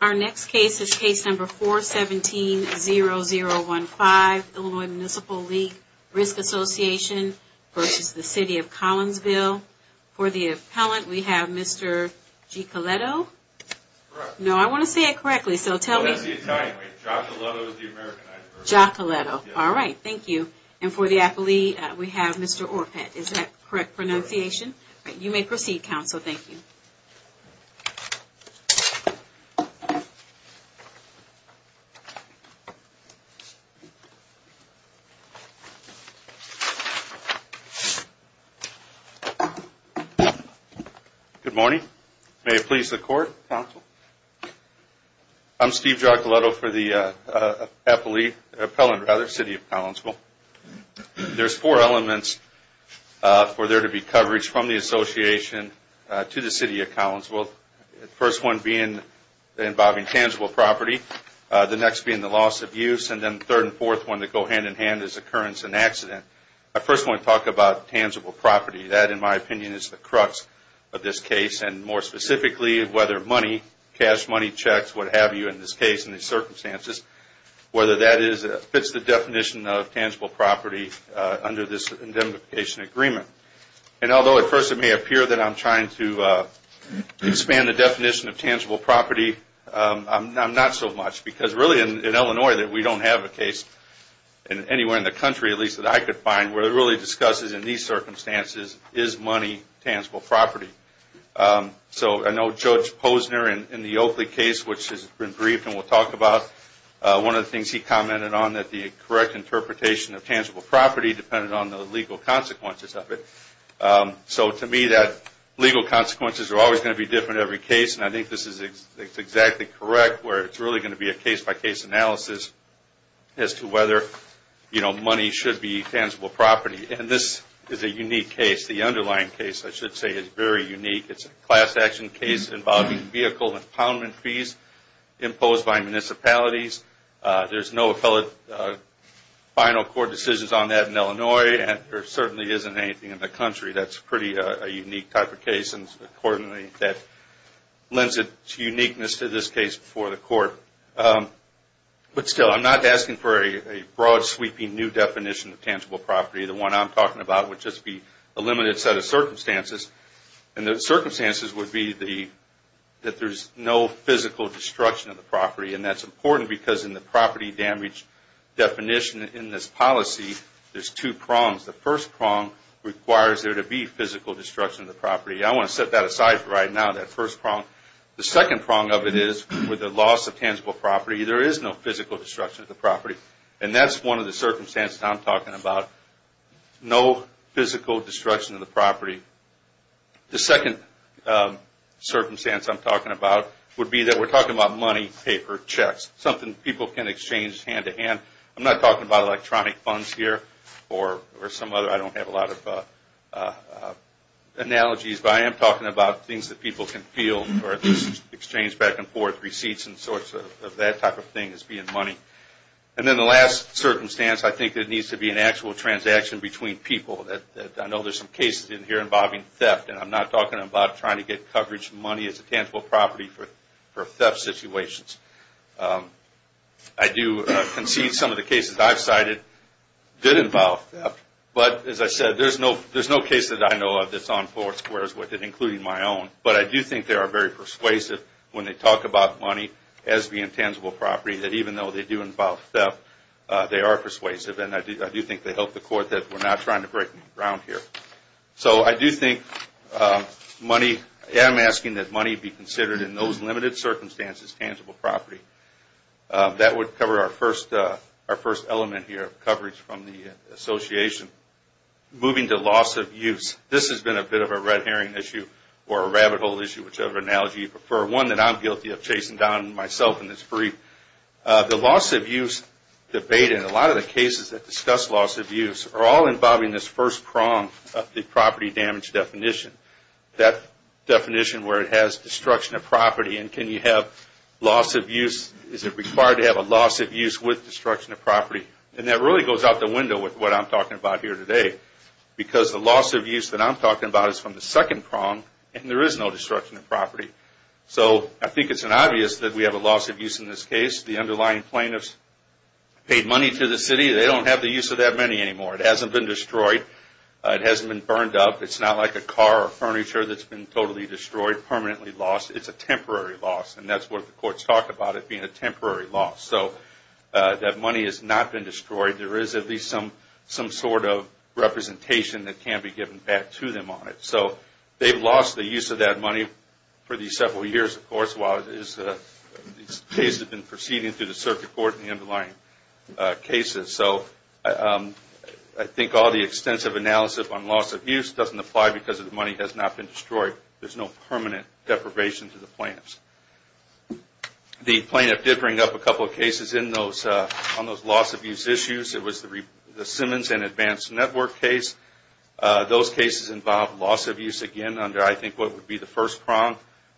Our next case is case number 4170015, Illinois Municipal League Risk Association v. City of Collinsville. For the appellant we have Mr. G. Coletto. No I want to say it correctly, so tell me, Giacoletto, alright thank you. And for the appellee we have Mr. Orpet, is that the correct pronunciation? You may proceed, counsel, thank you. Good morning. May it please the court, counsel. I'm Steve Giacoletto for the appellate, appellant rather, City of Collinsville. There's four elements for there to be coverage from the association to the City of Collinsville. First one being involving tangible property, the next being the loss of use, and then third and fourth one that go hand in hand is occurrence and accident. I first want to talk about tangible property. That in my opinion is the crux of this case and more specifically whether money, cash money checks, what have you in this case in these circumstances, whether that fits the definition of tangible property under this indemnification agreement. And although at first it may appear that I'm trying to expand the definition of tangible property, I'm not so much because really in Illinois we don't have a case, anywhere in the country at least that I could find, where it really discusses in these circumstances is money tangible property. So I know Judge Posner in the Oakley case which has been briefed and we'll talk about one of the things he commented on that the correct interpretation of tangible property depended on the legal consequences of it. So to me that legal consequences are always going to be different in every case and I think this is exactly correct where it's really going to be a case by case analysis as to whether money should be tangible property. And this is a unique case, the underlying case I should say is very unique. It's a class action case involving vehicle impoundment fees imposed by municipalities. There's no appellate final court decisions on that in Illinois and there certainly isn't anything in the country that's pretty a unique type of case and accordingly that lends its uniqueness to this case before the court. But still I'm not asking for a broad sweeping new definition of tangible property. The one I'm talking about would just be a limited set of circumstances and the circumstances would be that there's no physical destruction of the property and that's important because in the property damage definition in this policy there's two prongs. The first prong requires there to be physical destruction of the property. I want to set that aside for right now, that first prong. The second prong of it is with the loss of tangible property there is no physical destruction of the property and that's one of the circumstances I'm talking about. No physical destruction of the property. The second circumstance I'm talking about would be that we're talking about money, paper, checks, something people can exchange hand to hand. I'm not talking about electronic funds here or some other, I don't have a lot of analogies but I am talking about things that people can feel or exchange back and forth, receipts and sorts of that type of thing as being money. And then the last circumstance I think there needs to be an actual transaction between people. I know there's some cases in here involving theft and I'm not talking about trying to get coverage money as a tangible property for theft situations. I do concede some of the cases I've cited did involve theft but as I said there's no case that I know of that's on four squares with it including my own but I do think they are very persuasive when they talk about money as the intangible property that even though they do involve theft they are persuasive and I do think they help the court that we're not trying to break new ground here. So I do think money, I am asking that money be considered in those limited circumstances tangible property. That would cover our first element here, coverage from the association. Moving to loss of use, this has been a bit of a red herring issue or a rabbit hole issue whichever analogy you prefer. One that I'm guilty of chasing down myself in this brief. The loss of use debate in a lot of the cases that discuss loss of use are all involving this first prong of the property damage definition. That definition where it has destruction of property and can you have loss of use? Is it required to have a loss of use with destruction of property? And that really goes out the window with what I'm talking about here today. Because the loss of use that I'm talking about is from the second prong and there is no destruction of property. So I think it's obvious that we have a loss of use in this case. The underlying plaintiffs paid money to the city, they don't have the use of that money anymore. It hasn't been destroyed. It hasn't been burned up. It's not like a car or furniture that's been totally destroyed, permanently lost. It's a temporary loss and that's what the courts talk about it being a temporary loss. So that money has not been destroyed. There is at least some sort of representation that can be given back to them on it. So they've lost the use of that money for these several years, of course, while these cases have been proceeding through the circuit court and the underlying cases. So I think all the extensive analysis on loss of use doesn't apply because the money has not been destroyed. There is no permanent deprivation to the plaintiffs. The plaintiff did bring up a couple of cases on those loss of use issues. It was the Simmons and Advanced Network case. Those cases involved loss of use again under, I think, what would be the first prong,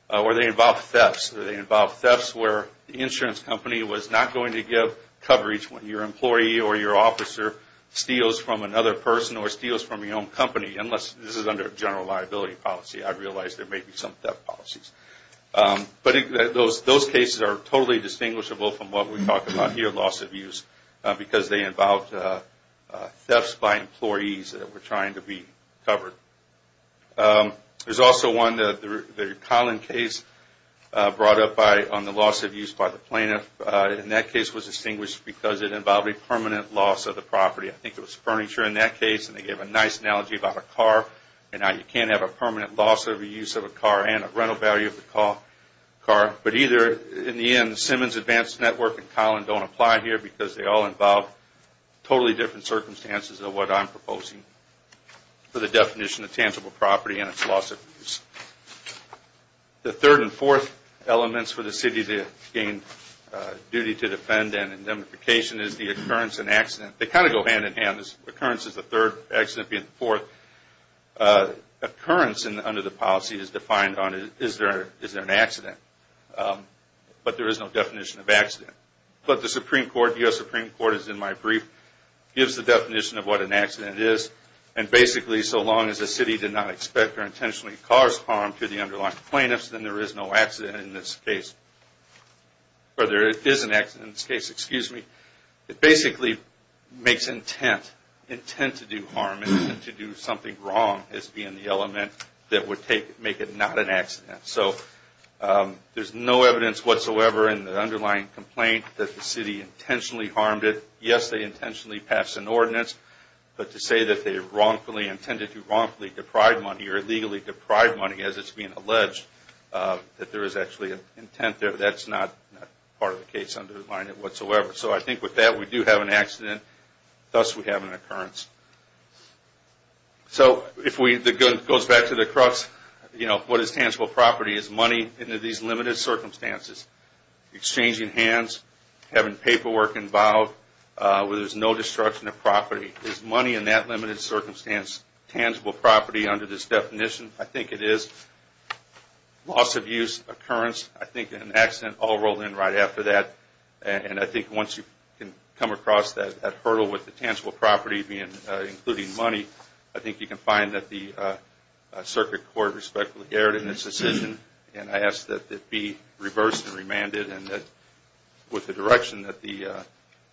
where they involved thefts. They involved thefts where the insurance company was not going to give coverage when your employee or your officer steals from another person or steals from your own company, unless this is under a general liability policy. I realize there may be some theft policies. But those cases are totally distinguishable from what we talk about here, loss of use, because they involved thefts by employees that were trying to be covered. There's also one, the Collin case, brought up on the loss of use by the plaintiff. And that case was distinguished because it involved a permanent loss of the property. I think it was furniture in that case, and they gave a nice analogy about a car. And you can't have a permanent loss of use of a car and a rental value of the car. But either, in the end, Simmons, Advanced Network, and Collin don't apply here because they all involve totally different circumstances of what I'm proposing for the definition of tangible property and its loss of use. The third and fourth elements for the city to gain duty to defend and indemnification is the occurrence and accident. They kind of go hand in hand. Occurrence is the third, accident being the fourth. Occurrence under the policy is defined on, is there an accident? But there is no definition of accident. But the Supreme Court, U.S. Supreme Court, is in my brief, gives the definition of what an accident is. And basically, so long as the city did not expect or intentionally caused harm to the underlying plaintiffs, then there is no accident in this case. Or there is an accident in this case, excuse me. It basically makes intent, intent to do harm and to do something wrong as being the element that would make it not an accident. So there is no evidence whatsoever in the underlying complaint that the city intentionally harmed it. Yes, they intentionally passed an ordinance, but to say that they wrongfully, intended to wrongfully deprive money or illegally deprive money as it's being alleged, that there is actually an intent there, that's not part of the case underlying it whatsoever. So I think with that, we do have an accident, thus we have an occurrence. So if we, it goes back to the crux, you know, what is tangible property? Is money in these limited circumstances? Exchanging hands, having paperwork involved, where there is no destruction of property. Is money in that limited circumstance tangible property under this definition? I think it is. Loss of use, occurrence, I think an accident all rolled in right after that. And I think once you can come across that hurdle with the tangible property being, including money, I think you can find that the circuit court respectfully erred in its decision. And I ask that it be reversed and remanded and that with the direction that the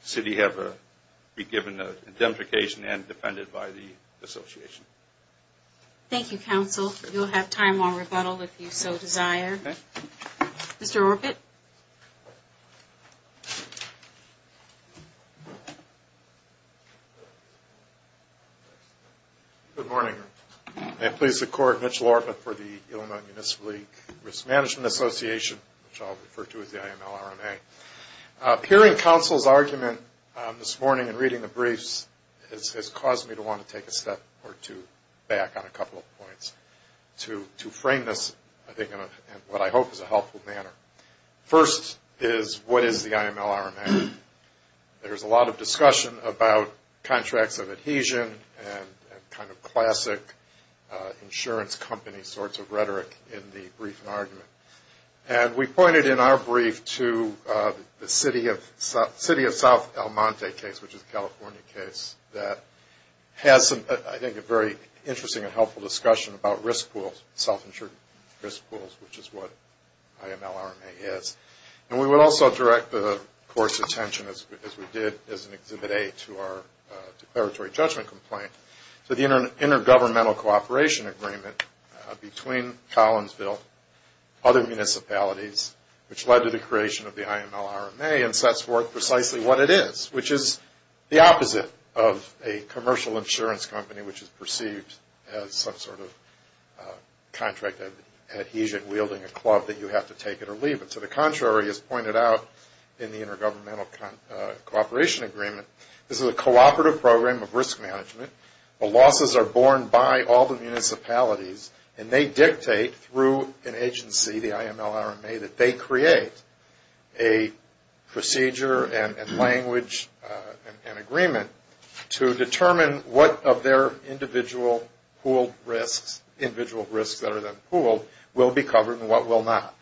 city have been given a indemnification and defended by the association. Thank you, counsel. You'll have time on rebuttal if you so desire. Mr. Orpet. Good morning. May it please the court, Mitch Lortma for the Illinois Municipal Risk Management Association, which I'll refer to as the IMLRMA. Hearing counsel's argument this morning and reading the briefs has caused me to want to take a step or two back on a couple of points. To frame this, I think, in what I hope is a helpful manner. First is what is the IMLRMA? There's a lot of discussion about contracts of adhesion and kind of classic insurance company sorts of rhetoric in the brief and argument. And we pointed in our brief to the City of South El Monte case, which is a California case that has, I think, a very interesting and helpful discussion about risk pools, self-insured risk pools, which is what IMLRMA is. And we would also direct the court's attention, as we did as an Exhibit A to our declaratory judgment complaint, to the intergovernmental cooperation agreement between Collinsville, other municipalities, which led to the creation of the IMLRMA and sets forth precisely what it is, which is the opposite of a commercial insurance company, which is perceived as some sort of contract of adhesion wielding a club that you have to take it or leave it. To the contrary, as pointed out in the intergovernmental cooperation agreement, this is a cooperative program of risk management. The losses are borne by all the municipalities and they dictate through an agency, the IMLRMA, that they create a procedure and language and agreement to determine what of their individual pooled risks, individual risks that are then pooled, will be covered and what will not.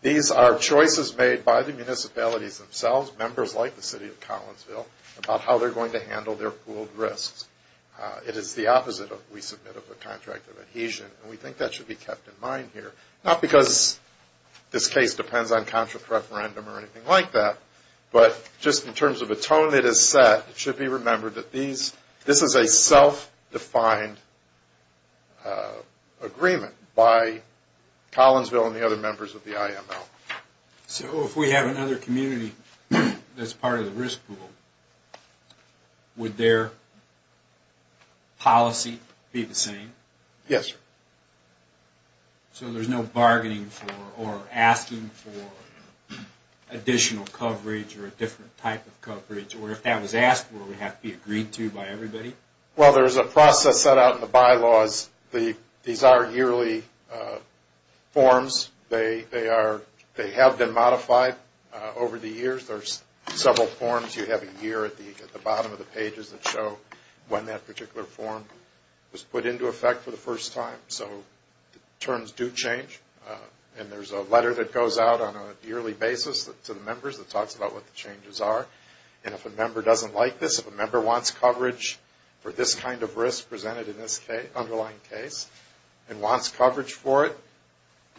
These are choices made by the municipalities themselves, members like the City of Collinsville, about how they're going to handle their pooled risks. It is the opposite, we submit, of a contract of adhesion. And we think that should be kept in mind here. Not because this case depends on contract referendum or anything like that, but just in terms of the tone it is set, it should be remembered that this is a self-defined agreement by Collinsville and the other members of the IML. So if we have another community that's part of the risk pool, would their policy be the same? Yes, sir. So there's no bargaining for or asking for additional coverage or a different type of coverage? Or if that was asked for, would it have to be agreed to by everybody? Well, there's a process set out in the bylaws. These are yearly forms. They have been modified over the years. There's several forms you have a year at the bottom of the pages that show when that particular form was put into effect for the first time. So the terms do change. And there's a letter that goes out on a yearly basis to the members that talks about what the changes are. And if a member doesn't like this, if a member wants coverage for this kind of risk presented in this underlying case and wants coverage for it,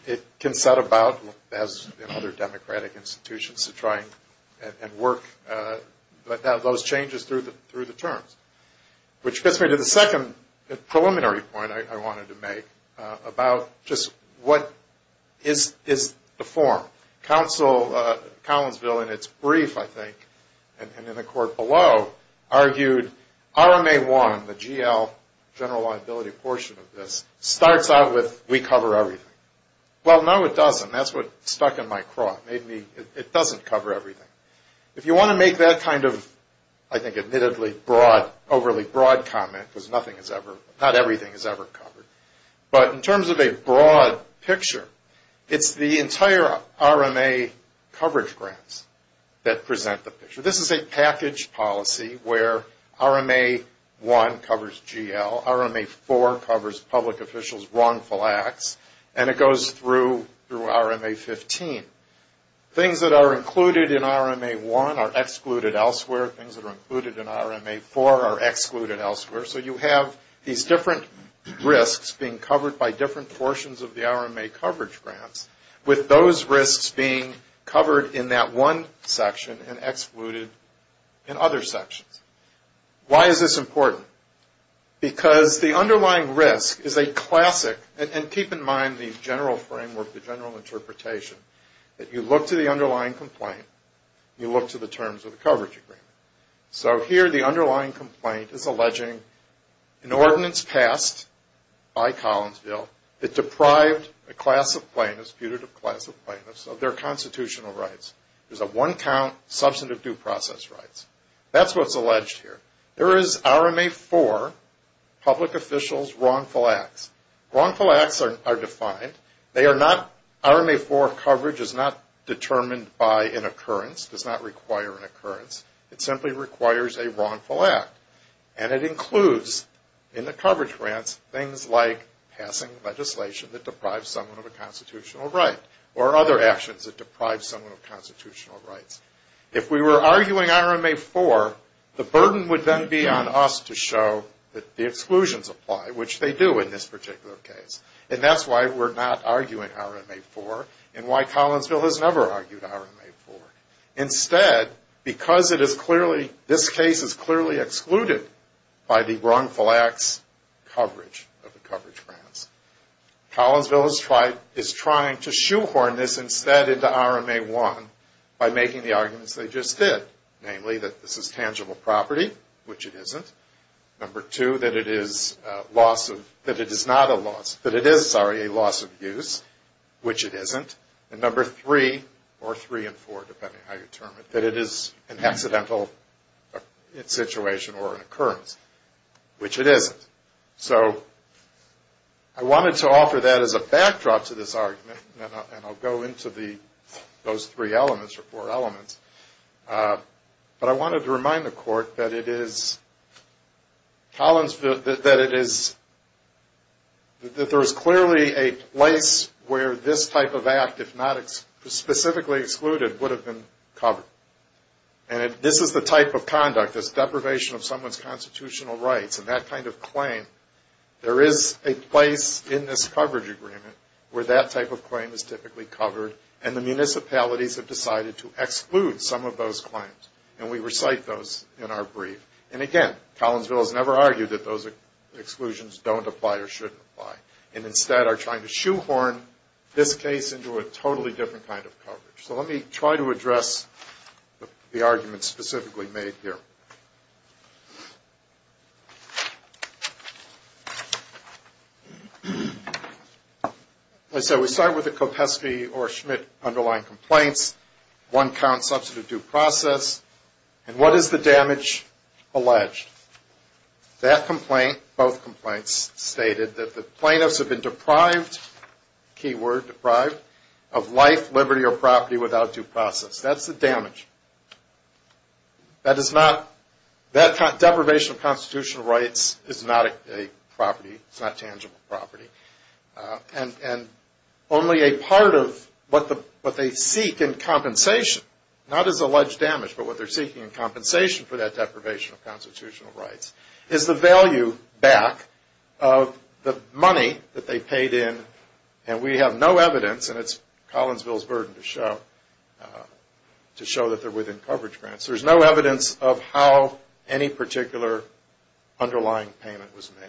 it can set about, as in other democratic institutions, to try and work those changes through the terms. Which gets me to the second preliminary point I wanted to make about just what is the form. Council Collinsville, in its brief, I think, and in the court below, argued RMA-1, the GL, general liability portion of this, starts out with we cover everything. Well, no, it doesn't. That's what stuck in my craw. It doesn't cover everything. If you want to make that kind of, I think, admittedly overly broad comment, because not everything is ever covered. But in terms of a broad picture, it's the entire RMA coverage grants that present the picture. This is a package policy where RMA-1 covers GL, RMA-4 covers public officials' wrongful acts, and it goes through RMA-15. Things that are included in RMA-1 are excluded elsewhere. Things that are included in RMA-4 are excluded elsewhere. So you have these different risks being covered by different portions of the RMA coverage grants, with those risks being covered in that one section and excluded in other sections. Why is this important? Because the underlying risk is a classic, and keep in mind the general framework, the general interpretation, that you look to the underlying complaint, you look to the terms of the coverage agreement. So here the underlying complaint is alleging an ordinance passed by Collinsville that deprived a class of plaintiffs, putative class of plaintiffs, of their constitutional rights. There's a one-count substantive due process rights. That's what's alleged here. There is RMA-4, public officials' wrongful acts. Wrongful acts are defined. RMA-4 coverage is not determined by an occurrence, does not require an occurrence. It simply requires a wrongful act, and it includes in the coverage grants things like passing legislation that deprives someone of a constitutional right or other actions that deprive someone of constitutional rights. If we were arguing RMA-4, the burden would then be on us to show that the exclusions apply, which they do in this particular case. And that's why we're not arguing RMA-4 and why Collinsville has never argued RMA-4. Instead, because this case is clearly excluded by the wrongful acts coverage of the coverage grants, Collinsville is trying to shoehorn this instead into RMA-1 by making the arguments they just did, namely that this is tangible property, which it isn't. Number two, that it is not a loss, that it is, sorry, a loss of use, which it isn't. And number three, or three and four, depending on how you term it, that it is an accidental situation or an occurrence, which it isn't. So I wanted to offer that as a backdrop to this argument, and I'll go into those three elements or four elements. But I wanted to remind the court that it is Collinsville, that it is, that there is clearly a place where this type of act, if not specifically excluded, would have been covered. And this is the type of conduct, this deprivation of someone's constitutional rights and that kind of claim, there is a place in this coverage agreement where that type of claim is typically covered and the municipalities have decided to exclude some of those claims. And we recite those in our brief. And again, Collinsville has never argued that those exclusions don't apply or shouldn't apply, and instead are trying to shoehorn this case into a totally different kind of coverage. So let me try to address the arguments specifically made here. As I said, we start with the Kopesky or Schmidt underlying complaints. One counts substantive due process. And what is the damage alleged? That complaint, both complaints, stated that the plaintiffs have been deprived, keyword deprived, of life, liberty, or property without due process. That's the damage. That is not, that deprivation of constitutional rights is not a property, it's not tangible property. And only a part of what they seek in compensation, not as alleged damage, but what they're seeking in compensation for that deprivation of constitutional rights, is the value back of the money that they paid in. And we have no evidence, and it's Collinsville's burden to show, to show that they're within coverage grants. There's no evidence of how any particular underlying payment was made.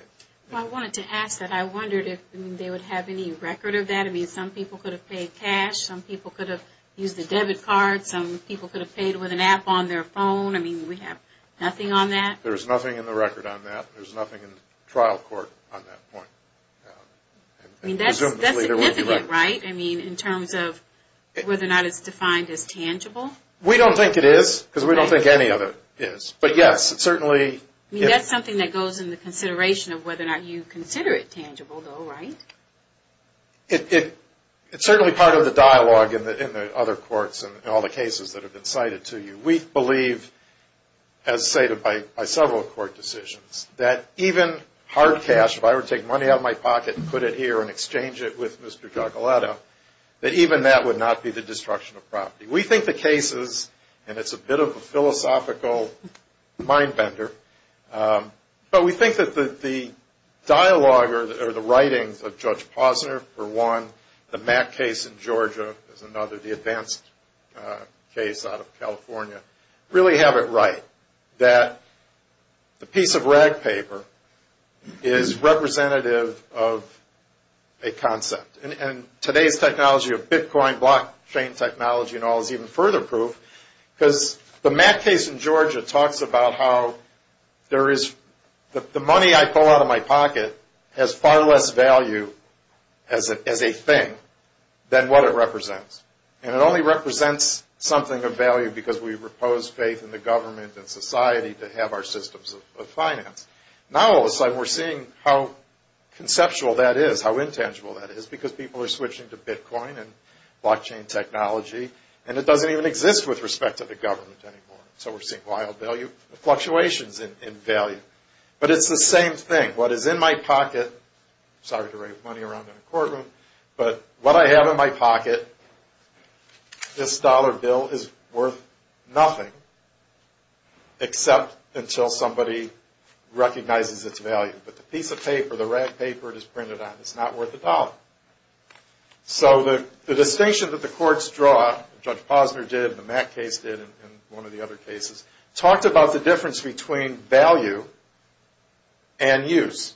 Well, I wanted to ask that. I wondered if they would have any record of that. I mean, some people could have paid cash. Some people could have used a debit card. Some people could have paid with an app on their phone. I mean, we have nothing on that. There's nothing in the record on that. There's nothing in the trial court on that point. I mean, that's significant, right? I mean, in terms of whether or not it's defined as tangible? We don't think it is, because we don't think any of it is. But, yes, it certainly is. I mean, that's something that goes in the consideration of whether or not you consider it tangible, though, right? It's certainly part of the dialogue in the other courts and all the cases that have been cited to you. We believe, as cited by several court decisions, that even hard cash, if I were to take money out of my pocket and put it here and exchange it with Mr. Giacoletto, that even that would not be the destruction of property. We think the cases, and it's a bit of a philosophical mind-bender, but we think that the dialogue or the writings of Judge Posner, for one, the Mack case in Georgia is another, the advanced case out of California, really have it right that the piece of rag paper is representative of a concept. And today's technology of Bitcoin, blockchain technology and all is even further proof, because the Mack case in Georgia talks about how the money I pull out of my pocket has far less value as a thing than what it represents. And it only represents something of value because we repose faith in the government and society to have our systems of finance. Now all of a sudden we're seeing how conceptual that is, how intangible that is, because people are switching to Bitcoin and blockchain technology, and it doesn't even exist with respect to the government anymore. So we're seeing wild value fluctuations in value. But it's the same thing. What is in my pocket, sorry to wave money around in a courtroom, but what I have in my pocket, this dollar bill is worth nothing except until somebody recognizes its value. But the piece of paper, the rag paper it is printed on, it's not worth a dollar. So the distinction that the courts draw, Judge Posner did, the Mack case did, and one of the other cases, talked about the difference between value and use.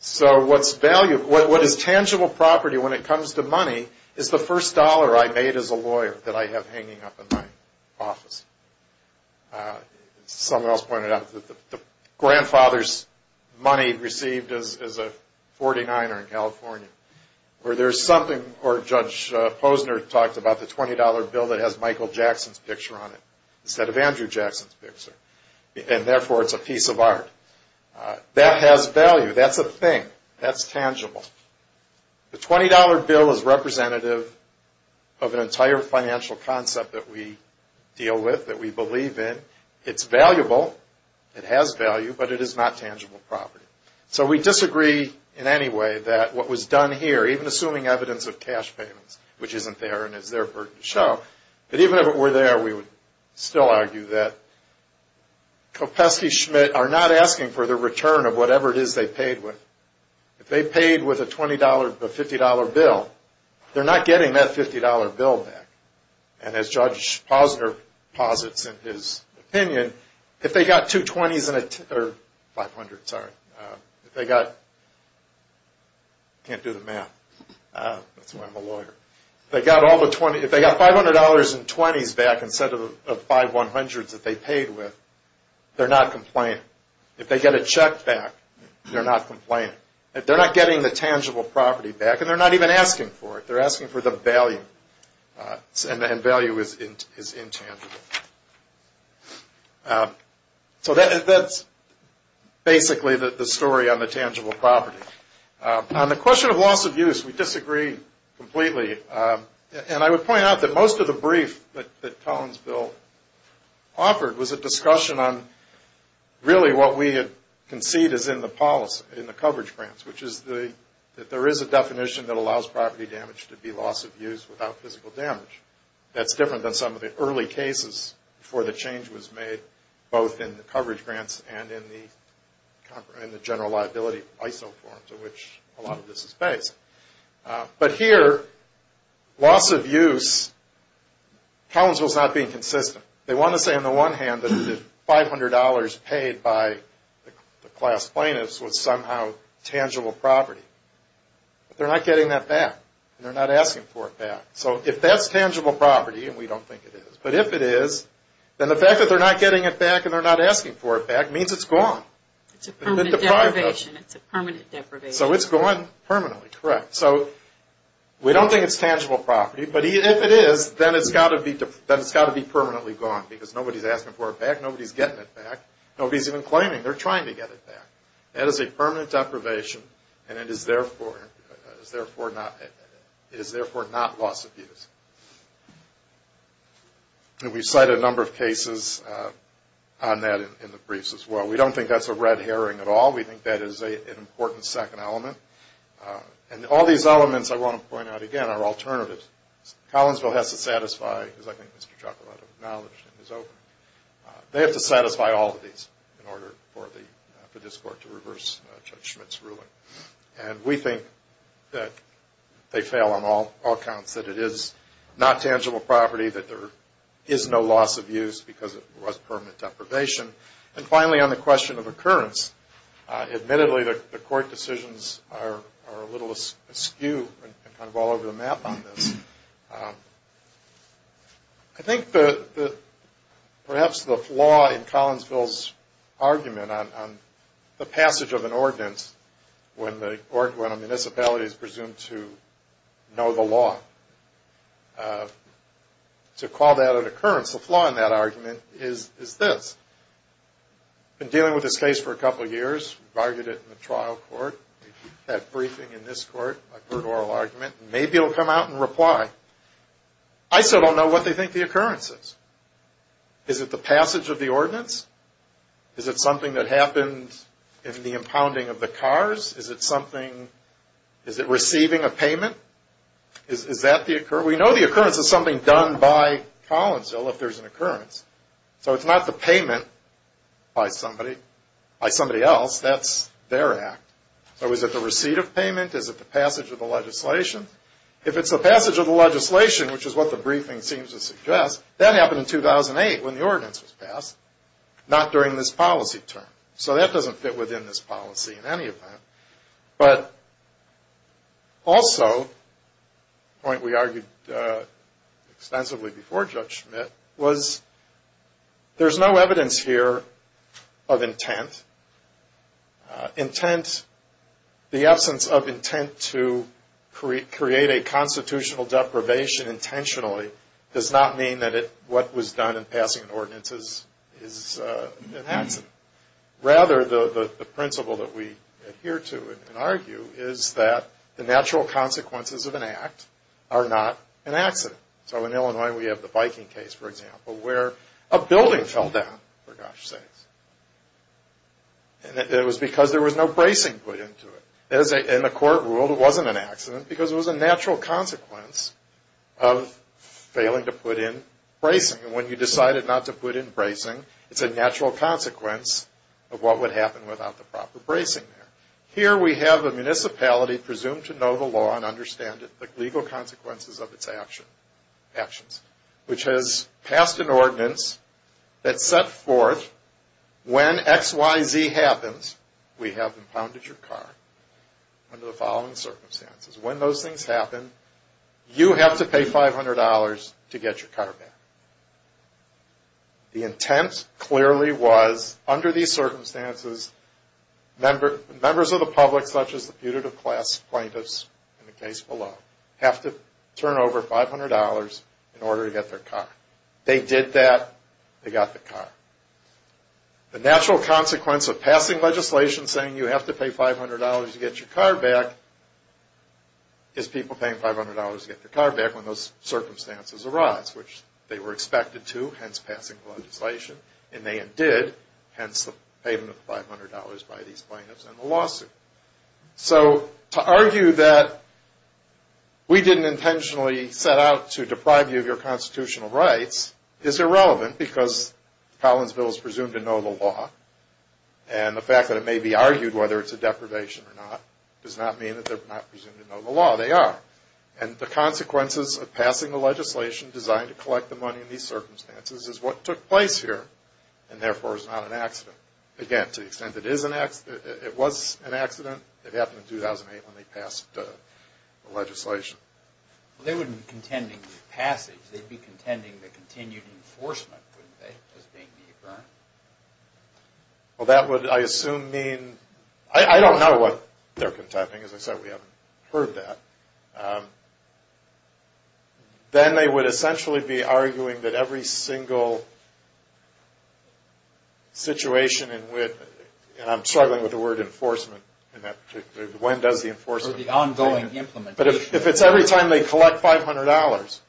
So what is tangible property when it comes to money is the first dollar I made as a lawyer that I have hanging up in my office. Someone else pointed out that the grandfather's money received is a 49er in California. Or Judge Posner talked about the $20 bill that has Michael Jackson's picture on it instead of Andrew Jackson's picture, and therefore it's a piece of art. That has value. That's a thing. That's tangible. The $20 bill is representative of an entire financial concept that we deal with, that we believe in. It's valuable, it has value, but it is not tangible property. So we disagree in any way that what was done here, even assuming evidence of cash payments, which isn't there and is there for it to show, that even if it were there we would still argue that Kopecky-Schmidt are not asking for the return of whatever it is they paid with. If they paid with a $20, a $50 bill, they're not getting that $50 bill back. And as Judge Posner posits in his opinion, if they got $500 in 20s back instead of the $500s that they paid with, they're not complaining. If they get a check back, they're not complaining. They're not getting the tangible property back, and they're not even asking for it. And value is intangible. So that's basically the story on the tangible property. On the question of loss of use, we disagree completely. And I would point out that most of the brief that Toland's bill offered was a discussion on, really, what we had conceived as in the policy, in the coverage grants, which is that there is a definition that allows property damage to be loss of use without physical damage. That's different than some of the early cases before the change was made, both in the coverage grants and in the general liability ISO forms in which a lot of this is based. But here, loss of use, Toland's bill is not being consistent. They want to say, on the one hand, that the $500 paid by the class plaintiffs was somehow tangible property. But they're not getting that back, and they're not asking for it back. So if that's tangible property, and we don't think it is, but if it is, then the fact that they're not getting it back and they're not asking for it back means it's gone. It's a permanent deprivation. So it's gone permanently, correct. So we don't think it's tangible property, but if it is, then it's got to be permanently gone, because nobody's asking for it back, nobody's getting it back, nobody's even claiming. They're trying to get it back. That is a permanent deprivation, and it is therefore not loss of use. And we've cited a number of cases on that in the briefs as well. We don't think that's a red herring at all. We think that is an important second element. And all these elements, I want to point out again, are alternatives. Collinsville has to satisfy, as I think Mr. Chuck will have acknowledged in his opening, they have to satisfy all of these in order for this Court to reverse Judge Schmitt's ruling. And we think that they fail on all accounts, that it is not tangible property, that there is no loss of use because it was permanent deprivation. And finally, on the question of occurrence, admittedly the Court decisions are a little askew and kind of all over the map on this. I think that perhaps the flaw in Collinsville's argument on the passage of an ordinance when a municipality is presumed to know the law, to call that an occurrence, the flaw in that argument is this. I've been dealing with this case for a couple of years. We've argued it in the trial court. We've had briefing in this court. I've heard oral argument. Maybe it will come out and reply. I still don't know what they think the occurrence is. Is it the passage of the ordinance? Is it something that happened in the impounding of the cars? Is it something, is it receiving a payment? Is that the occurrence? We know the occurrence is something done by Collinsville if there's an occurrence. So it's not the payment by somebody else. That's their act. So is it the receipt of payment? Is it the passage of the legislation? If it's the passage of the legislation, which is what the briefing seems to suggest, that happened in 2008 when the ordinance was passed, not during this policy term. So that doesn't fit within this policy in any event. But also, a point we argued extensively before Judge Schmitt, was there's no evidence here of intent. Intent, the absence of intent to create a constitutional deprivation intentionally, does not mean that what was done in passing an ordinance is enhancing. Rather, the principle that we adhere to and argue is that the natural consequences of an act are not an accident. So in Illinois, we have the Viking case, for example, where a building fell down, for gosh sakes. And it was because there was no bracing put into it. And the court ruled it wasn't an accident because it was a natural consequence of failing to put in bracing. And when you decided not to put in bracing, it's a natural consequence of what would happen without the proper bracing there. Here we have a municipality presumed to know the law and understand it, the legal consequences of its actions, which has passed an ordinance that set forth when XYZ happens, we have impounded your car under the following circumstances. When those things happen, you have to pay $500 to get your car back. The intent clearly was under these circumstances, members of the public such as the putative class plaintiffs in the case below have to turn over $500 in order to get their car. They did that. They got the car. The natural consequence of passing legislation saying you have to pay $500 to get your car back is people paying $500 to get their car back when those circumstances arise, which they were expected to, hence passing legislation, and they did, hence the payment of $500 by these plaintiffs in the lawsuit. So to argue that we didn't intentionally set out to deprive you of your constitutional rights is irrelevant because Collinsville is presumed to know the law, and the fact that it may be argued whether it's a deprivation or not does not mean that they're not presumed to know the law. They are. And the consequences of passing the legislation designed to collect the money in these circumstances is what took place here, and therefore is not an accident. Again, to the extent that it is an accident, it was an accident. It happened in 2008 when they passed the legislation. Well, they wouldn't be contending with passage. They'd be contending with continued enforcement, wouldn't they, as being the occurrence? Well, that would, I assume, mean – I don't know what they're contending. As I said, we haven't heard that. Then they would essentially be arguing that every single situation in which – and I'm struggling with the word enforcement in that particular case. When does the enforcement – Or the ongoing implementation. But if it's every time they collect $500,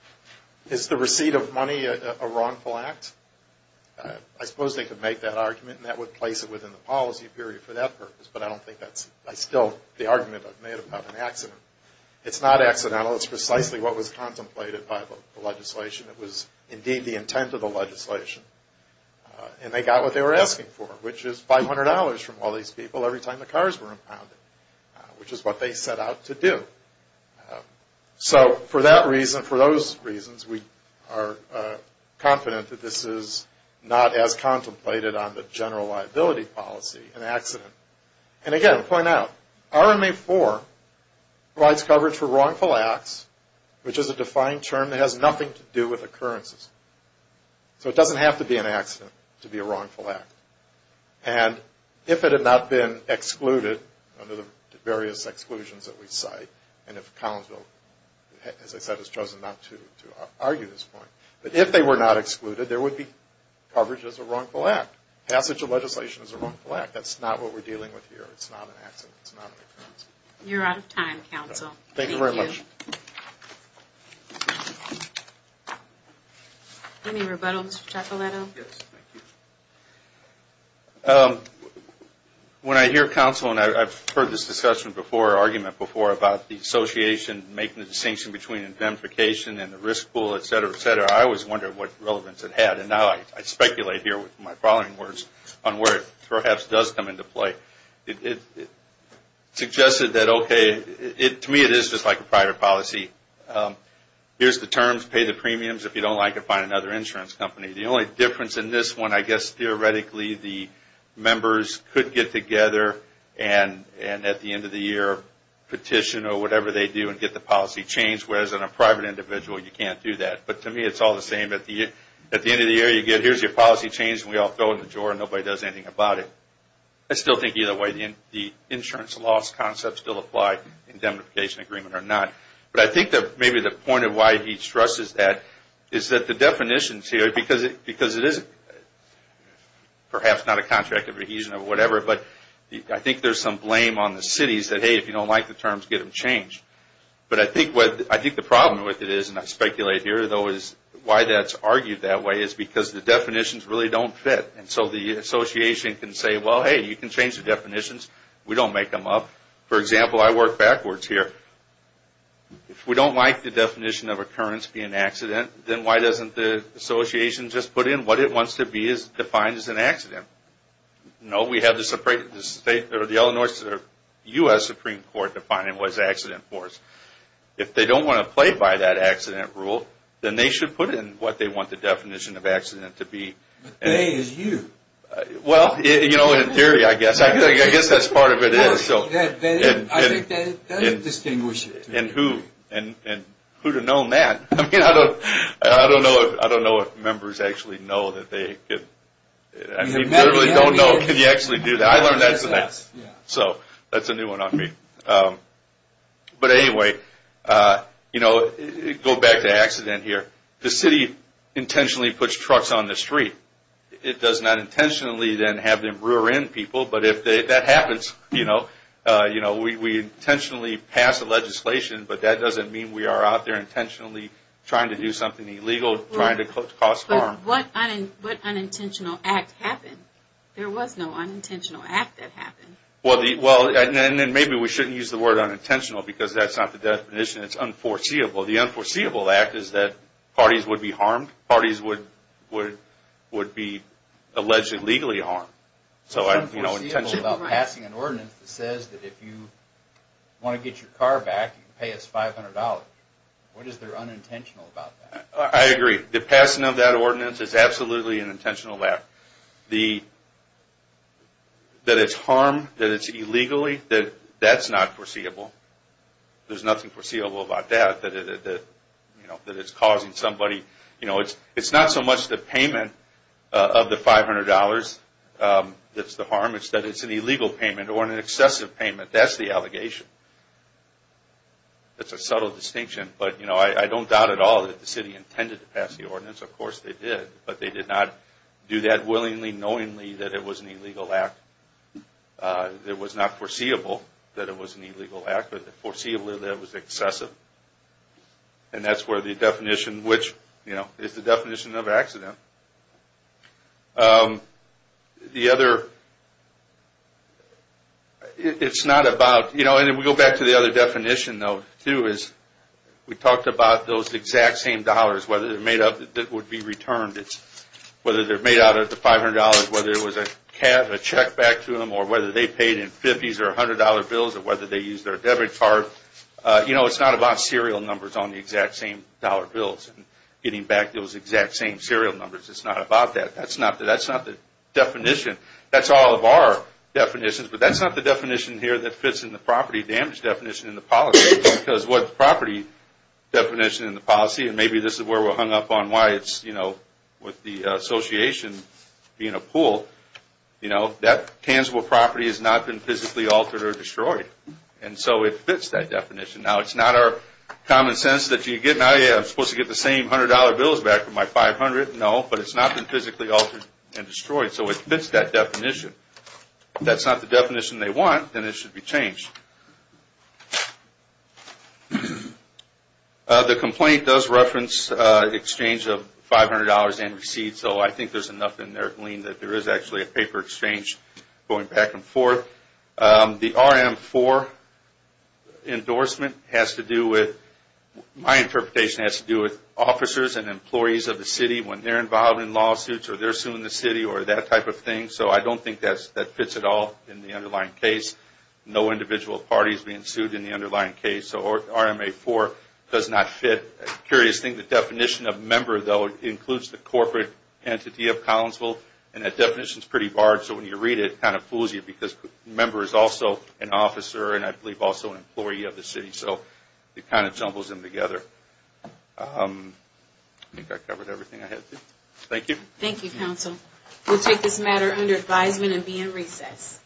is the receipt of money a wrongful act? I suppose they could make that argument, and that would place it within the policy period for that purpose. But I don't think that's still the argument I've made about an accident. It's not accidental. It's precisely what was contemplated by the legislation. It was indeed the intent of the legislation. And they got what they were asking for, which is $500 from all these people every time the cars were impounded, which is what they set out to do. So for that reason, for those reasons, we are confident that this is not as contemplated on the general liability policy, an accident. And again, I'll point out, RMA-IV provides coverage for wrongful acts, which is a defined term that has nothing to do with occurrences. So it doesn't have to be an accident to be a wrongful act. And if it had not been excluded under the various exclusions that we cite, and if Collinsville, as I said, has chosen not to argue this point, but if they were not excluded, there would be coverage as a wrongful act. Passage of legislation is a wrongful act. That's not what we're dealing with here. It's not an accident. It's not an occurrence. You're out of time, counsel. Thank you very much. Thank you. Any rebuttals, Mr. Taccoletto? Yes, thank you. When I hear counsel, and I've heard this discussion before, argument before about the association, making the distinction between indemnification and the risk pool, et cetera, et cetera, I always wondered what relevance it had. And now I speculate here with my following words on where it perhaps does come into play. It suggested that, okay, to me it is just like a private policy. Here's the terms. Pay the premiums. If you don't like it, find another insurance company. The only difference in this one, I guess theoretically the members could get together and at the end of the year petition or whatever they do and get the policy changed, whereas in a private individual you can't do that. But to me it's all the same. At the end of the year you get here's your policy changed and we all throw it in the drawer and nobody does anything about it. I still think either way the insurance loss concept still applies in indemnification agreement or not. But I think that maybe the point of why he stresses that is that the definitions here, because it is perhaps not a contract of adhesion or whatever, but I think there's some blame on the cities that, hey, if you don't like the terms, get them changed. But I think the problem with it is, and I speculate here though is why that's argued that way is because the definitions really don't fit. And so the association can say, well, hey, you can change the definitions. We don't make them up. For example, I work backwards here. If we don't like the definition of occurrence being accident, then why doesn't the association just put in what it wants to be defined as an accident? No, we have the state or the Illinois or U.S. Supreme Court defining what is accident for us. If they don't want to play by that accident rule, then they should put in what they want the definition of accident to be. But they is you. Well, in theory I guess. I guess that's part of it is. I think that does distinguish it. And who to know that? I don't know if members actually know that they could. I really don't know. Can you actually do that? I learned that today. So that's a new one on me. But anyway, go back to accident here. The city intentionally puts trucks on the street. It does not intentionally then have them rear end people. But if that happens, we intentionally pass the legislation, but that doesn't mean we are out there intentionally trying to do something illegal, trying to cause harm. But what unintentional act happened? There was no unintentional act that happened. Well, and then maybe we shouldn't use the word unintentional because that's not the definition. It's unforeseeable. The unforeseeable act is that parties would be harmed. Parties would be allegedly legally harmed. It's unforeseeable about passing an ordinance that says that if you want to get your car back, you can pay us $500. What is there unintentional about that? I agree. The passing of that ordinance is absolutely an intentional act. That it's harm, that it's illegally, that's not foreseeable. There's nothing foreseeable about that, that it's causing somebody. It's not so much the payment of the $500 that's the harm, it's that it's an illegal payment or an excessive payment. That's the allegation. That's a subtle distinction. But I don't doubt at all that the city intended to pass the ordinance. Of course they did, but they did not do that willingly, knowingly that it was an illegal act. It was not foreseeable that it was an illegal act, but foreseeably that it was excessive. And that's where the definition, which is the definition of accident. It's not about, and we go back to the other definition, too, is we talked about those exact same dollars, whether they're made up that would be returned, whether they're made out of the $500, whether it was a check back to them, or whether they paid in 50s or $100 bills, or whether they used their debit card. It's not about serial numbers on the exact same dollar bills and getting back those exact same serial numbers. It's not about that. That's not the definition. That's all of our definitions, but that's not the definition here that fits in the property damage definition in the policy. Because what the property definition in the policy, and maybe this is where we're hung up on why it's with the association being a pool, that tangible property has not been physically altered or destroyed. And so it fits that definition. Now, it's not our common sense that I'm supposed to get the same $100 bills back for my $500. No, but it's not been physically altered and destroyed. So it fits that definition. If that's not the definition they want, then it should be changed. The complaint does reference exchange of $500 and receipts, so I think there's enough in there, Gleen, that there is actually a paper exchange going back and forth. The RM4 endorsement has to do with, my interpretation has to do with, officers and employees of the city when they're involved in lawsuits or they're suing the city or that type of thing. So I don't think that fits at all in the underlying case. No individual party is being sued in the underlying case, so RMA4 does not fit. Curious thing, the definition of member, though, includes the corporate entity of Collinsville, and that definition is pretty large, so when you read it, it kind of fools you because member is also an officer and I believe also an employee of the city, so it kind of jumbles them together. I think I covered everything I had to. Thank you. Thank you, counsel. We'll take this matter under advisement and be in recess.